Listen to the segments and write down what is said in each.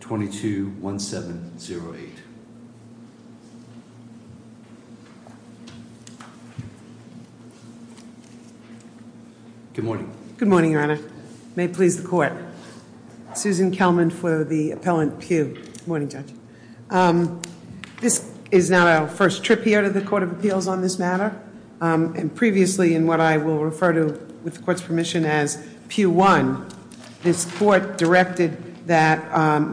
22-1708. Good morning. Good morning, your honor. May it please the court. Susan Kelman for the appellant Pugh. Good morning, Judge. This is not our first trip here to the Court of Appeals on this matter and previously in what I will refer to with the court's permission as Pugh 1, this court directed that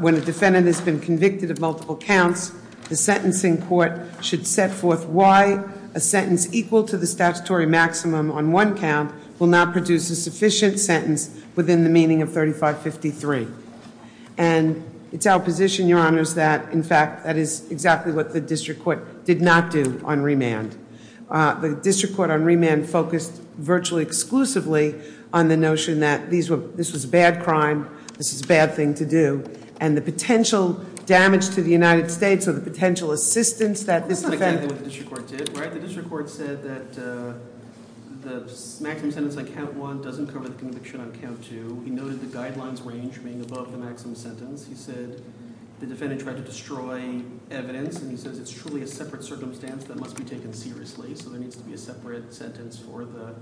when a defendant has been convicted of multiple counts, the sentencing court should set forth why a sentence equal to the statutory maximum on one count will not produce a sufficient sentence within the meaning of 3553. And it's our position, your honors, that in fact that is exactly what the district court did not do on remand. The district court on remand focused virtually exclusively on the notion that this was a bad crime, this is a bad thing to do, and the potential damage to the United States or the potential assistance that this defendant- That's exactly what the district court did, right? The district court said that the maximum sentence on count one doesn't cover the conviction on count two. He noted the guidelines range being above the maximum sentence. He said the defendant tried to destroy evidence and he says it's truly a separate circumstance that must be taken seriously. So there needs to be a separate sentence for the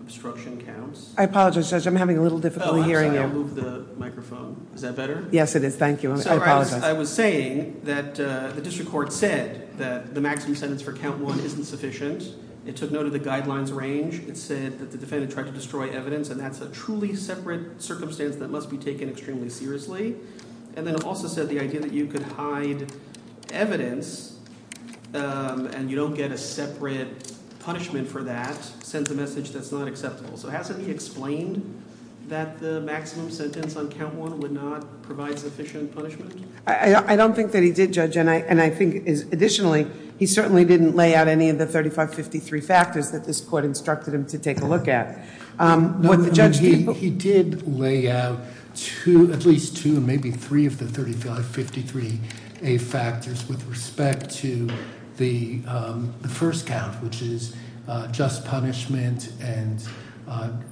obstruction counts. I apologize, Judge, I'm having a little difficulty hearing you. I'm sorry, I'll move the microphone. Is that better? Yes, it is. Thank you. I apologize. I was saying that the district court said that the maximum sentence for count one isn't sufficient. It took note of the guidelines range. It said that the defendant tried to destroy evidence and that's a truly separate circumstance that must be taken extremely seriously. And then it also said the idea that you could hide evidence and you don't get a separate punishment for that sends a message that you can't do that. That's a message that's not acceptable. So hasn't he explained that the maximum sentence on count one would not provide sufficient punishment? I don't think that he did, Judge, and I think additionally, he certainly didn't lay out any of the 3553 factors that this court instructed him to take a look at. What the judge did- He did lay out two, at least two, maybe three of the 3553A factors with respect to the first count, which is just punishment.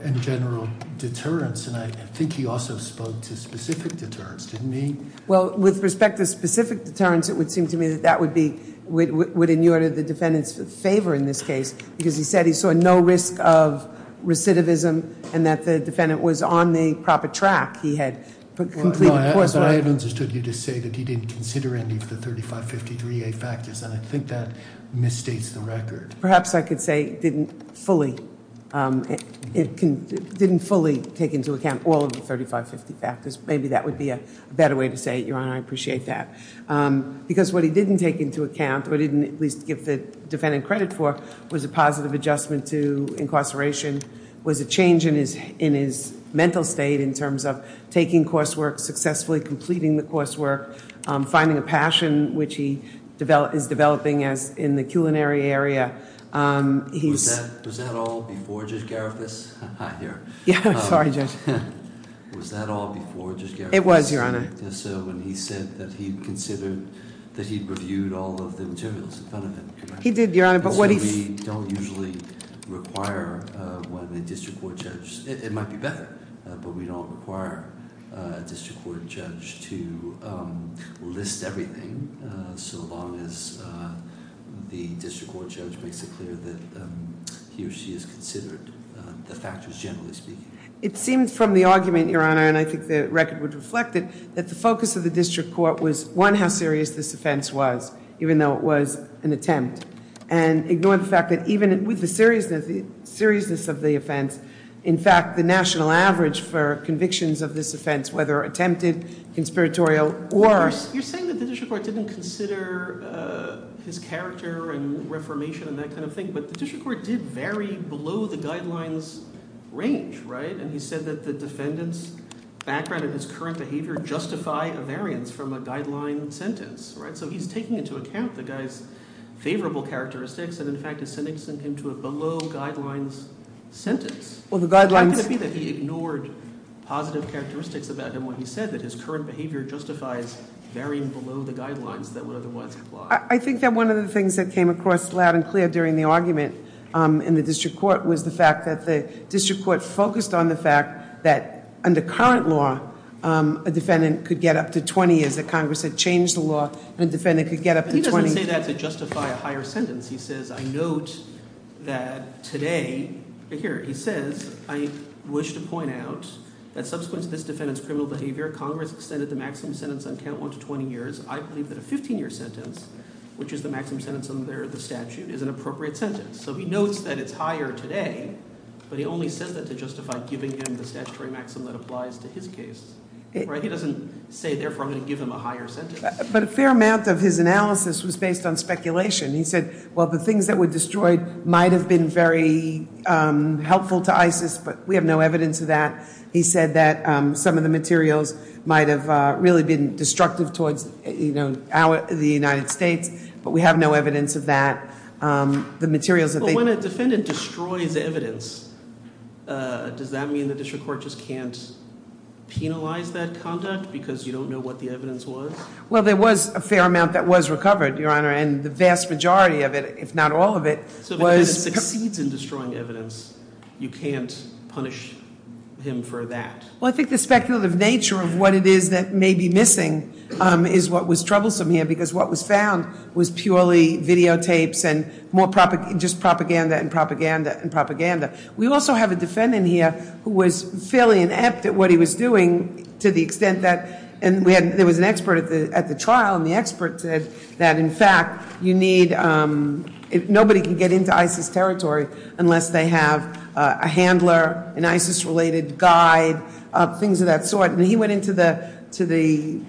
And general deterrence, and I think he also spoke to specific deterrence, didn't he? Well, with respect to specific deterrence, it would seem to me that that would in order the defendant's favor in this case, because he said he saw no risk of recidivism and that the defendant was on the proper track. He had put- No, but I understood you to say that he didn't consider any of the 3553A factors, and I think that misstates the record. Perhaps I could say he didn't fully take into account all of the 3553A factors. Maybe that would be a better way to say it, Your Honor. I appreciate that, because what he didn't take into account or didn't at least give the defendant credit for was a positive adjustment to incarceration, was a change in his mental state in terms of taking coursework successfully, completing the coursework, finding a passion which he is developing as in the culinary area. He's- Was that all before Judge Garifas? Hi there. Yeah, I'm sorry, Judge. Was that all before Judge Garifas? It was, Your Honor. So when he said that he'd considered, that he'd reviewed all of the materials in front of him, correct? He did, Your Honor, but what he- So we don't usually require one of the district court judges. It might be better, but we don't require a district court judge to list everything, so long as the district court judge makes it clear that he or she has considered the factors, generally speaking. It seems from the argument, Your Honor, and I think the record would reflect it, that the focus of the district court was, one, how serious this offense was, even though it was an attempt. And ignoring the fact that even with the seriousness of the offense, in fact, the national average for convictions of this offense, whether attempted, conspiratorial, or- You're saying that the district court didn't consider his character and reformation and that kind of thing. But the district court did vary below the guidelines range, right? And he said that the defendant's background and his current behavior justify a variance from a guideline sentence, right? And so he's taking into account the guy's favorable characteristics, and in fact, is sending him to a below guidelines sentence. Well, the guidelines- How could it be that he ignored positive characteristics about him when he said that his current behavior justifies varying below the guidelines that would otherwise apply? I think that one of the things that came across loud and clear during the argument in the district court was the fact that the district court focused on the fact that, under current law, a defendant could get up to 20 years. That Congress had changed the law, and a defendant could get up to 20- He doesn't say that to justify a higher sentence. He says, I note that today, here, he says, I wish to point out that subsequent to this defendant's criminal behavior, Congress extended the maximum sentence on count one to 20 years. I believe that a 15 year sentence, which is the maximum sentence under the statute, is an appropriate sentence. So he notes that it's higher today, but he only says that to justify giving him the statutory maximum that applies to his case. Right, he doesn't say, therefore, I'm going to give him a higher sentence. But a fair amount of his analysis was based on speculation. He said, well, the things that were destroyed might have been very helpful to ISIS, but we have no evidence of that. He said that some of the materials might have really been destructive towards the United States, but we have no evidence of that. The materials that they- When a defendant destroys evidence, does that mean the district court just can't penalize that conduct? Because you don't know what the evidence was? Well, there was a fair amount that was recovered, your honor, and the vast majority of it, if not all of it, was- So if a defendant succeeds in destroying evidence, you can't punish him for that? Well, I think the speculative nature of what it is that may be missing is what was troublesome here. Because what was found was purely videotapes and just propaganda and propaganda and propaganda. We also have a defendant here who was fairly inept at what he was doing to the extent that, and there was an expert at the trial, and the expert said that, in fact, you need, nobody can get into ISIS territory unless they have a handler, an ISIS-related guide, things of that sort. And he went into the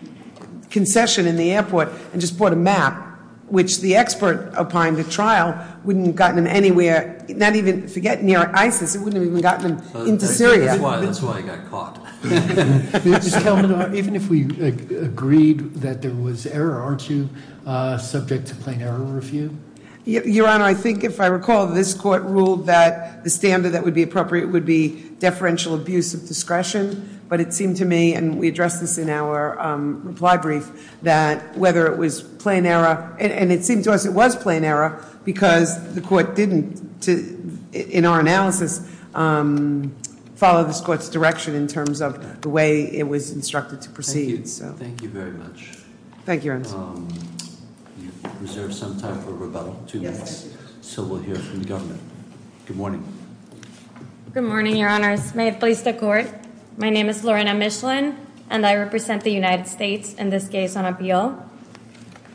concession in the airport and just brought a map, which the expert applying the trial wouldn't have gotten him anywhere, not even, forget near ISIS, it wouldn't have even gotten him into Syria. That's why he got caught. Even if we agreed that there was error, aren't you subject to plain error review? Your honor, I think if I recall, this court ruled that the standard that would be appropriate would be deferential abuse of discretion. But it seemed to me, and we addressed this in our reply brief, that whether it was plain error, and it seemed to us it was plain error, because the court didn't, in our analysis, follow this court's direction in terms of the way it was instructed to proceed, so. Thank you very much. Thank you, Your Honor. We have reserved some time for rebuttal. Yes. So we'll hear from the government. Good morning. Good morning, Your Honors. May it please the court. My name is Lorena Michelin, and I represent the United States in this case on appeal.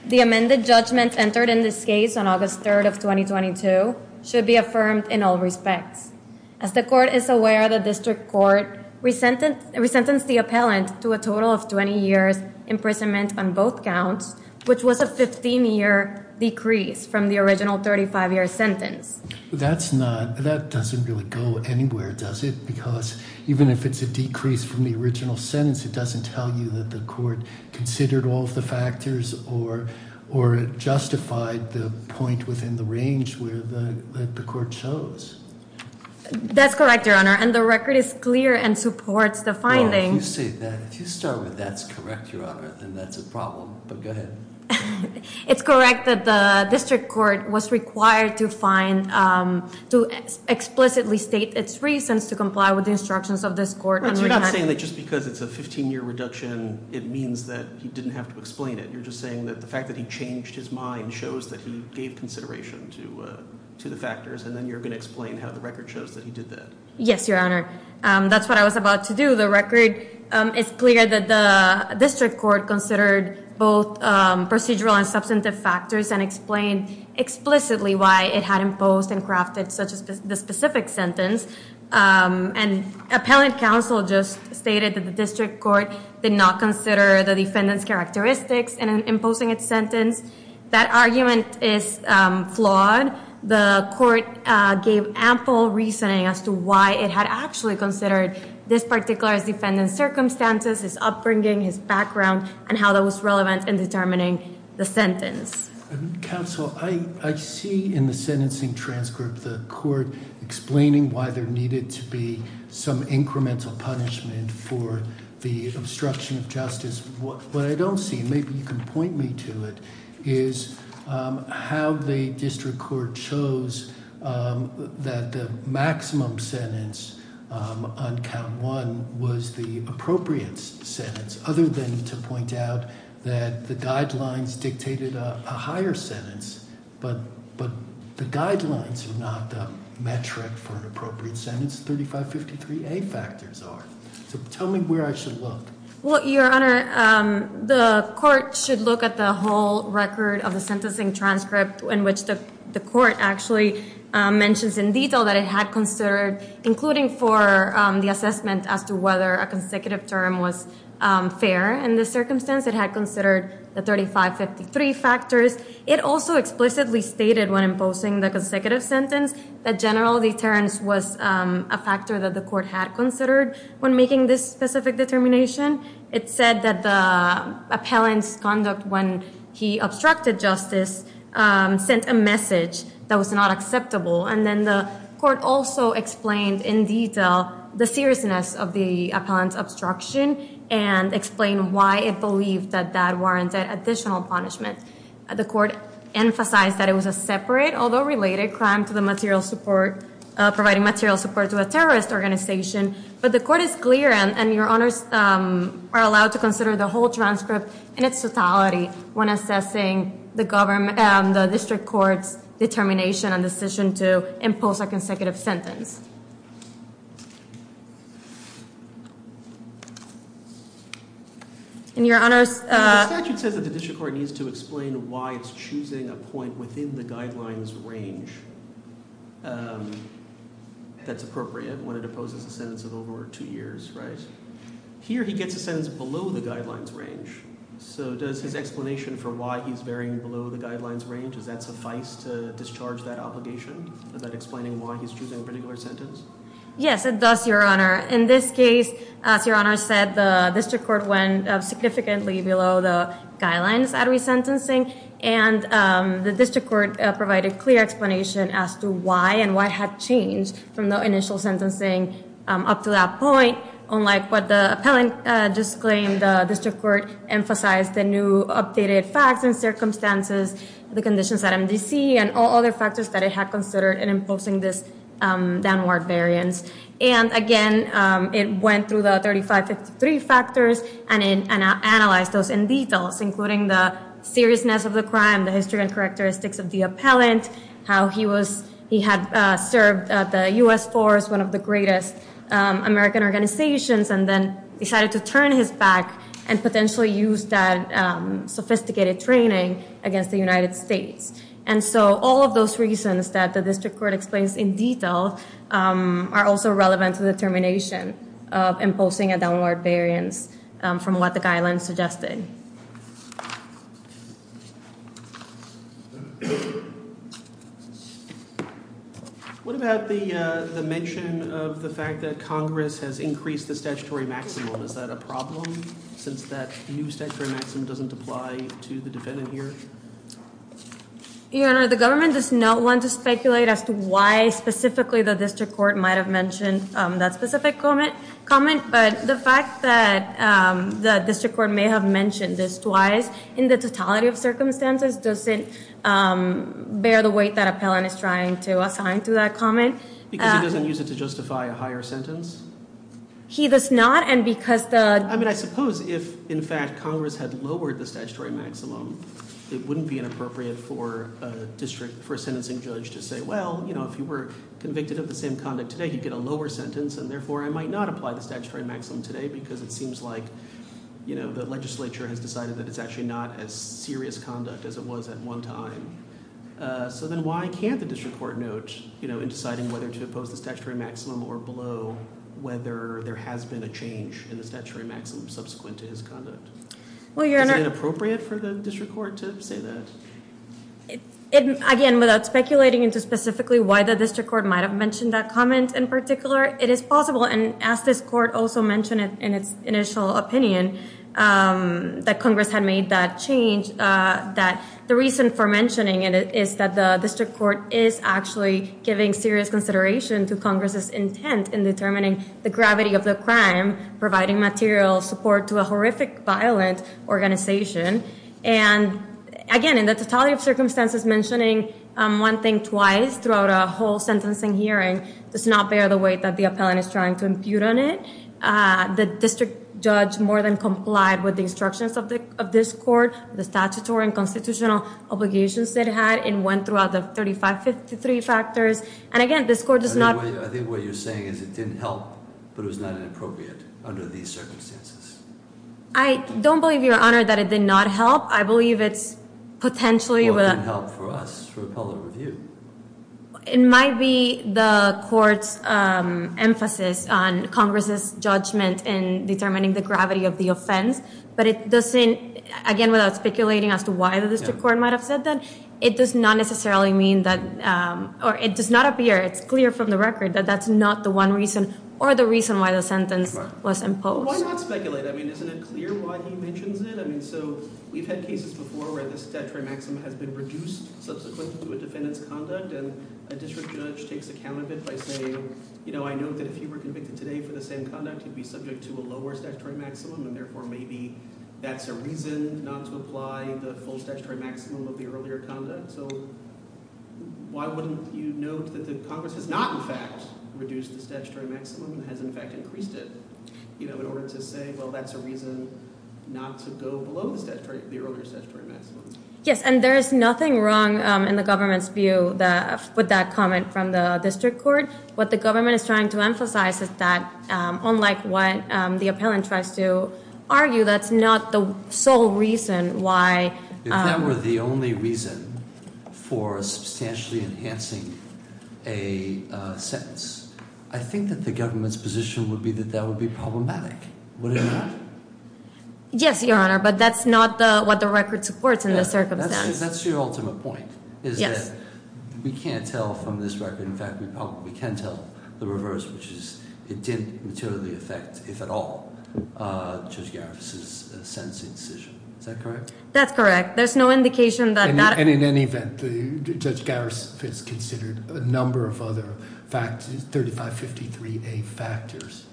The amended judgment entered in this case on August 3rd of 2022 should be affirmed in all respects. As the court is aware, the district court resentenced the appellant to a total of 20 years imprisonment on both counts, which was a 15 year decrease from the original 35 year sentence. That's not, that doesn't really go anywhere, does it? Because even if it's a decrease from the original sentence, it doesn't tell you that the court considered all of the factors or justified the point within the range where the court chose. That's correct, Your Honor, and the record is clear and supports the finding. Well, if you say that, if you start with that's correct, Your Honor, then that's a problem. But go ahead. It's correct that the district court was required to find, to explicitly state its reasons to comply with the instructions of this court. And you're not saying that just because it's a 15 year reduction, it means that you didn't have to explain it. You're just saying that the fact that he changed his mind shows that he gave consideration to the factors. And then you're going to explain how the record shows that he did that. Yes, Your Honor. That's what I was about to do. To the record, it's clear that the district court considered both procedural and substantive factors and explained explicitly why it had imposed and crafted such a specific sentence. And appellate counsel just stated that the district court did not consider the defendant's characteristics in imposing its sentence. That argument is flawed. The court gave ample reasoning as to why it had actually considered this particular defendant's circumstances, his upbringing, his background, and how that was relevant in determining the sentence. Counsel, I see in the sentencing transcript the court explaining why there needed to be some incremental punishment for the obstruction of justice. What I don't see, maybe you can point me to it, is how the district court chose that the maximum sentence on count one was the appropriate sentence. Other than to point out that the guidelines dictated a higher sentence, but the guidelines are not the metric for an appropriate sentence. 3553A factors are. So tell me where I should look. Well, your honor, the court should look at the whole record of the sentencing transcript in which the court actually mentions in detail that it had considered, including for the assessment as to whether a consecutive term was fair in this circumstance. It had considered the 3553 factors. It also explicitly stated when imposing the consecutive sentence that general deterrence was a factor that the court had considered when making this specific determination. It said that the appellant's conduct when he obstructed justice sent a message that was not acceptable. And then the court also explained in detail the seriousness of the appellant's obstruction and explained why it believed that that warranted additional punishment. The court emphasized that it was a separate, although related, crime to the material support, providing material support to a terrorist organization. But the court is clear, and your honors are allowed to consider the whole transcript in its totality when assessing the district court's determination and decision to impose a consecutive sentence. And your honors- The statute says that the district court needs to explain why it's choosing a point within the guidelines range that's appropriate when it opposes a sentence of over two years, right? Here he gets a sentence below the guidelines range. So does his explanation for why he's varying below the guidelines range, does that suffice to discharge that obligation? Is that explaining why he's choosing a particular sentence? Yes, it does, your honor. In this case, as your honor said, the district court went significantly below the guidelines at resentencing. And the district court provided clear explanation as to why and what had changed from the initial sentencing up to that point. Unlike what the appellant disclaimed, the district court emphasized the new updated facts and And again, it went through the 35-53 factors and analyzed those in detail, including the seriousness of the crime, the history and characteristics of the appellant, how he had served the US force, one of the greatest American organizations. And then decided to turn his back and potentially use that sophisticated training against the United States. And so all of those reasons that the district court explains in detail are also relevant to the termination of imposing a downward variance from what the guidelines suggested. What about the mention of the fact that Congress has increased the statutory maximum? Is that a problem, since that new statutory maximum doesn't apply to the defendant here? Your honor, the government does not want to speculate as to why specifically the district court might have mentioned that specific comment. But the fact that the district court may have mentioned this twice in the totality of circumstances, doesn't bear the weight that appellant is trying to assign to that comment. Because he doesn't use it to justify a higher sentence? He does not, and because the- I mean, I suppose if, in fact, Congress had lowered the statutory maximum, it wouldn't be inappropriate for a district, for a sentencing judge to say, well, if you were convicted of the same conduct today, you get a lower sentence, and therefore I might not apply the statutory maximum today. Because it seems like the legislature has decided that it's actually not as serious conduct as it was at one time. So then why can't the district court note in deciding whether to oppose the statutory maximum or below whether there has been a change in the statutory maximum subsequent to his conduct? Well, your honor- Is it inappropriate for the district court to say that? Again, without speculating into specifically why the district court might have mentioned that comment in particular, it is possible. And as this court also mentioned in its initial opinion, that Congress had made that change. That the reason for mentioning it is that the district court is actually giving serious consideration to Congress's intent in determining the gravity of the crime. Providing material support to a horrific, violent organization. And again, in the totality of circumstances, mentioning one thing twice throughout a whole sentencing hearing does not bear the weight that the appellant is trying to impute on it. The district judge more than complied with the instructions of this court, the statutory and constitutional obligations that it had, and went throughout the 3553 factors. And again, this court does not- I think what you're saying is it didn't help, but it was not inappropriate under these circumstances. I don't believe, your honor, that it did not help. I believe it's potentially- Well, it didn't help for us, for appellate review. It might be the court's emphasis on Congress's judgment in determining the gravity of the offense. But it doesn't, again, without speculating as to why the district court might have said that, it does not necessarily mean that, or it does not appear, it's clear from the record, that that's not the one reason or the reason why the sentence was imposed. Why not speculate? I mean, isn't it clear why he mentions it? I mean, so, we've had cases before where the statutory maximum has been reduced subsequently to a defendant's conduct, and a district judge takes account of it by saying, you know, I know that if you were convicted today for the same conduct, you'd be subject to a lower statutory maximum, and therefore maybe that's a reason not to apply the full statutory maximum of the earlier conduct. So, why wouldn't you note that the Congress has not, in fact, reduced the statutory maximum, has, in fact, increased it, you know, in order to say, well, that's a reason not to go below the earlier statutory maximum? Yes, and there is nothing wrong in the government's view with that comment from the district court. What the government is trying to emphasize is that, unlike what the appellant tries to argue, that's not the sole reason why- If that were the only reason for substantially enhancing a sentence, I think that the government's position would be that that would be problematic, would it not? Yes, Your Honor, but that's not what the record supports in this circumstance. That's your ultimate point, is that we can't tell from this record, in fact, we probably can tell the reverse, which is it didn't materially affect, if at all, Judge Garris' sentencing decision, is that correct? That's correct, there's no indication that- And in any event, Judge Garris has considered a number of other 3553A factors.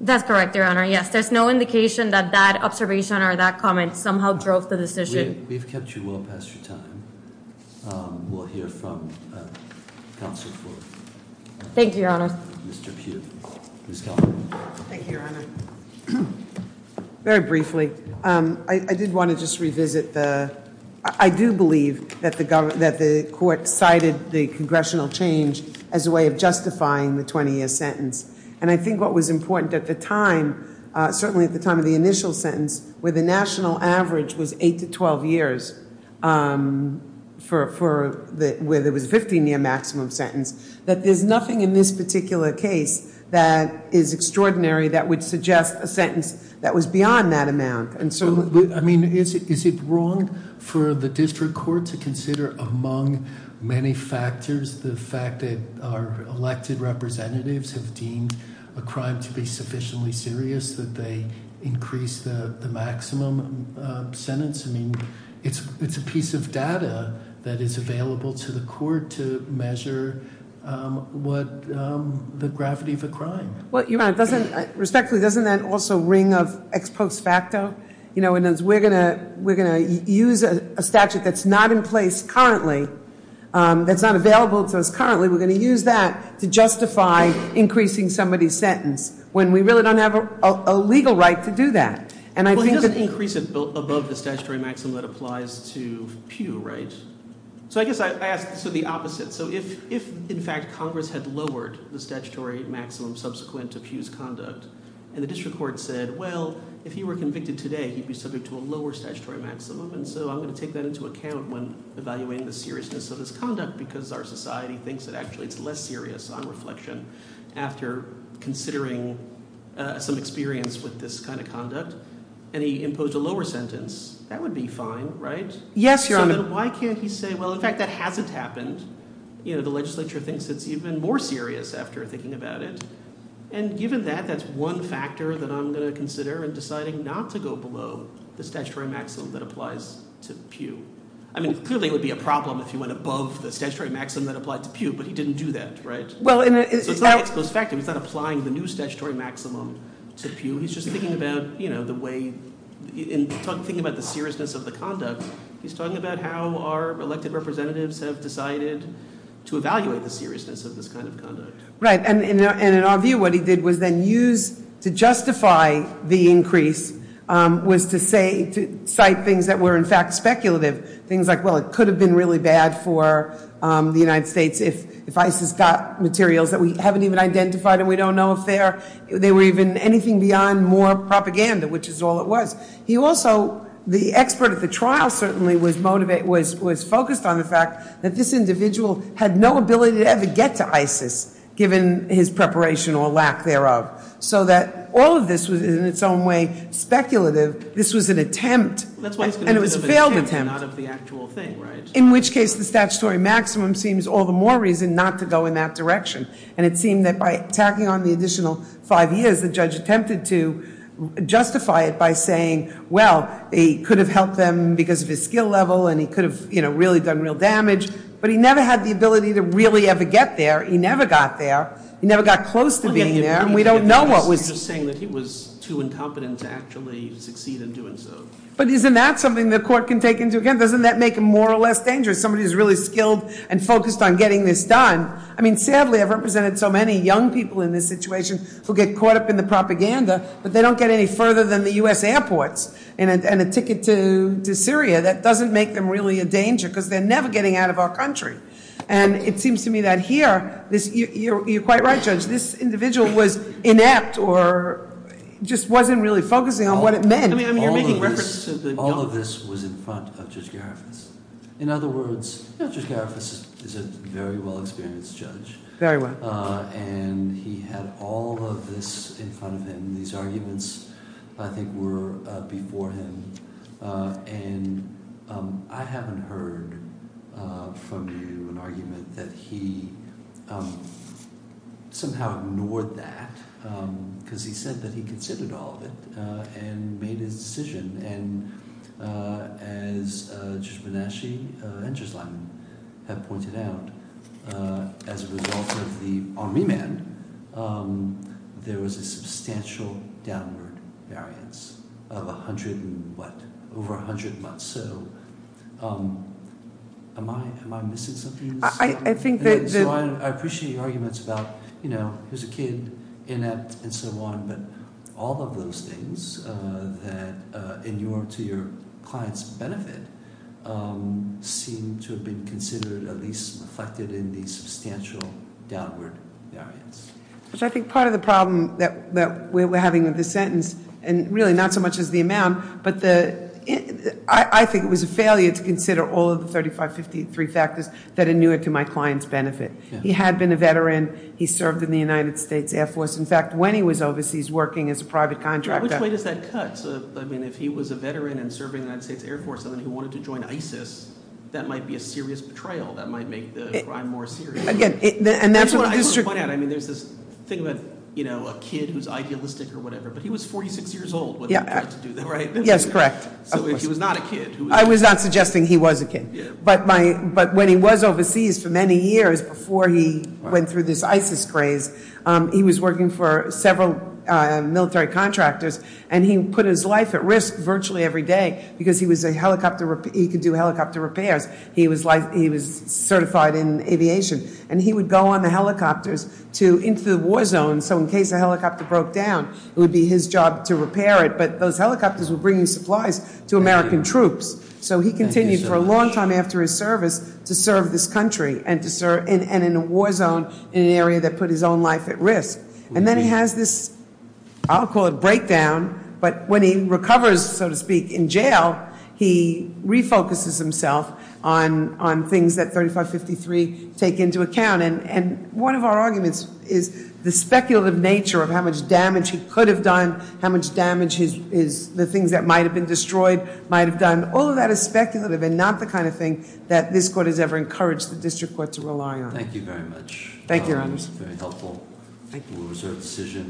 That's correct, Your Honor, yes, there's no indication that that observation or that comment somehow drove the decision. We've kept you well past your time. We'll hear from counsel for- Thank you, Your Honor. Mr. Pugh. Ms. Calderon. Thank you, Your Honor. Very briefly, I did want to just revisit the, I do believe that the court cited the congressional change as a way of justifying the 20-year sentence. And I think what was important at the time, certainly at the time of the initial sentence, where the national average was 8 to 12 years, where there was a 15-year maximum sentence, that there's nothing in this particular case that is extraordinary that would suggest a sentence that was beyond that amount. And so, I mean, is it wrong for the district court to consider among many factors the fact that our elected representatives have deemed a crime to be sufficiently serious, that they increase the maximum sentence? I mean, it's a piece of data that is available to the court to measure the gravity of a crime. Well, Your Honor, respectfully, doesn't that also ring of ex post facto? And as we're going to use a statute that's not in place currently, that's not available to us currently, we're going to use that to justify increasing somebody's sentence. When we really don't have a legal right to do that. And I think that- Well, he doesn't increase it above the statutory maximum that applies to Pew, right? So I guess I ask, so the opposite. So if, in fact, Congress had lowered the statutory maximum subsequent to Pew's conduct, and the district court said, well, if he were convicted today, he'd be subject to a lower statutory maximum. And so I'm going to take that into account when evaluating the seriousness of his conduct, because our society thinks that actually it's less serious on reflection after considering some experience with this kind of conduct. And he imposed a lower sentence, that would be fine, right? Yes, Your Honor. Why can't he say, well, in fact, that hasn't happened. The legislature thinks it's even more serious after thinking about it. And given that, that's one factor that I'm going to consider in deciding not to go below the statutory maximum that applies to Pew. I mean, clearly it would be a problem if you went above the statutory maximum that applied to Pew, but he didn't do that, right? So it's not exposed fact, he's not applying the new statutory maximum to Pew. He's just thinking about the seriousness of the conduct. He's talking about how our elected representatives have decided to evaluate the seriousness of this kind of conduct. Right, and in our view, what he did was then use, to justify the increase, was to cite things that were, in fact, speculative. Things like, well, it could have been really bad for the United States if ISIS got materials that we haven't even identified and we don't know if they're, they were even anything beyond more propaganda, which is all it was. He also, the expert at the trial certainly was focused on the fact that this individual had no ability to ever get to ISIS, given his preparation or lack thereof. So that all of this was in its own way speculative, this was an attempt. And it was a failed attempt. In which case, the statutory maximum seems all the more reason not to go in that direction. And it seemed that by tacking on the additional five years, the judge attempted to justify it by saying, well, he could have helped them because of his skill level, and he could have really done real damage. But he never had the ability to really ever get there, he never got there, he never got close to being there, and we don't know what was- But isn't that something the court can take into account? Doesn't that make him more or less dangerous? Somebody who's really skilled and focused on getting this done. I mean, sadly, I've represented so many young people in this situation who get caught up in the propaganda, but they don't get any further than the US airports and a ticket to Syria. That doesn't make them really a danger, because they're never getting out of our country. And it seems to me that here, you're quite right, Judge. I mean, you're making reference to the young- All of this was in front of Judge Gariffas. In other words, Judge Gariffas is a very well experienced judge. Very well. And he had all of this in front of him. These arguments, I think, were before him. And I haven't heard from you an argument that he somehow ignored that, because he said that he considered all of it and made his decision. And as Judge Benashi and Judge Lyman have pointed out, as a result of the army man, there was a substantial downward variance of 100 and what? Over 100 months. So am I missing something in this? I think that- I appreciate your arguments about, who's a kid, inept, and so on. But all of those things that inure to your client's benefit seem to have been considered, at least reflected in the substantial downward variance. Which I think part of the problem that we're having with this sentence, and really not so much as the amount. But I think it was a failure to consider all of the 35, 53 factors that inure to my client's benefit. He had been a veteran. He served in the United States Air Force. In fact, when he was overseas working as a private contractor- Which way does that cut? I mean, if he was a veteran and serving in the United States Air Force, and then he wanted to join ISIS, that might be a serious betrayal. That might make the crime more serious. Again, and that's what- I just want to point out, I mean, there's this thing about a kid who's idealistic or whatever. But he was 46 years old when he tried to do that, right? Yes, correct. So if he was not a kid, who was he? I was not suggesting he was a kid. But when he was overseas for many years before he went through this ISIS craze, he was working for several military contractors. And he put his life at risk virtually every day, because he could do helicopter repairs. He was certified in aviation. And he would go on the helicopters into the war zone, so in case a helicopter broke down, it would be his job to repair it. But those helicopters were bringing supplies to American troops. So he continued for a long time after his service to serve this country, and in a war zone, in an area that put his own life at risk. And then he has this, I'll call it breakdown, but when he recovers, so to speak, in jail, he refocuses himself on things that 3553 take into account. And one of our arguments is the speculative nature of how much damage he could have done, how much damage the things that might have been destroyed might have done. All of that is speculative and not the kind of thing that this court has ever encouraged the district court to rely on. Thank you very much. Thank you, Your Honor. It was very helpful. Thank you.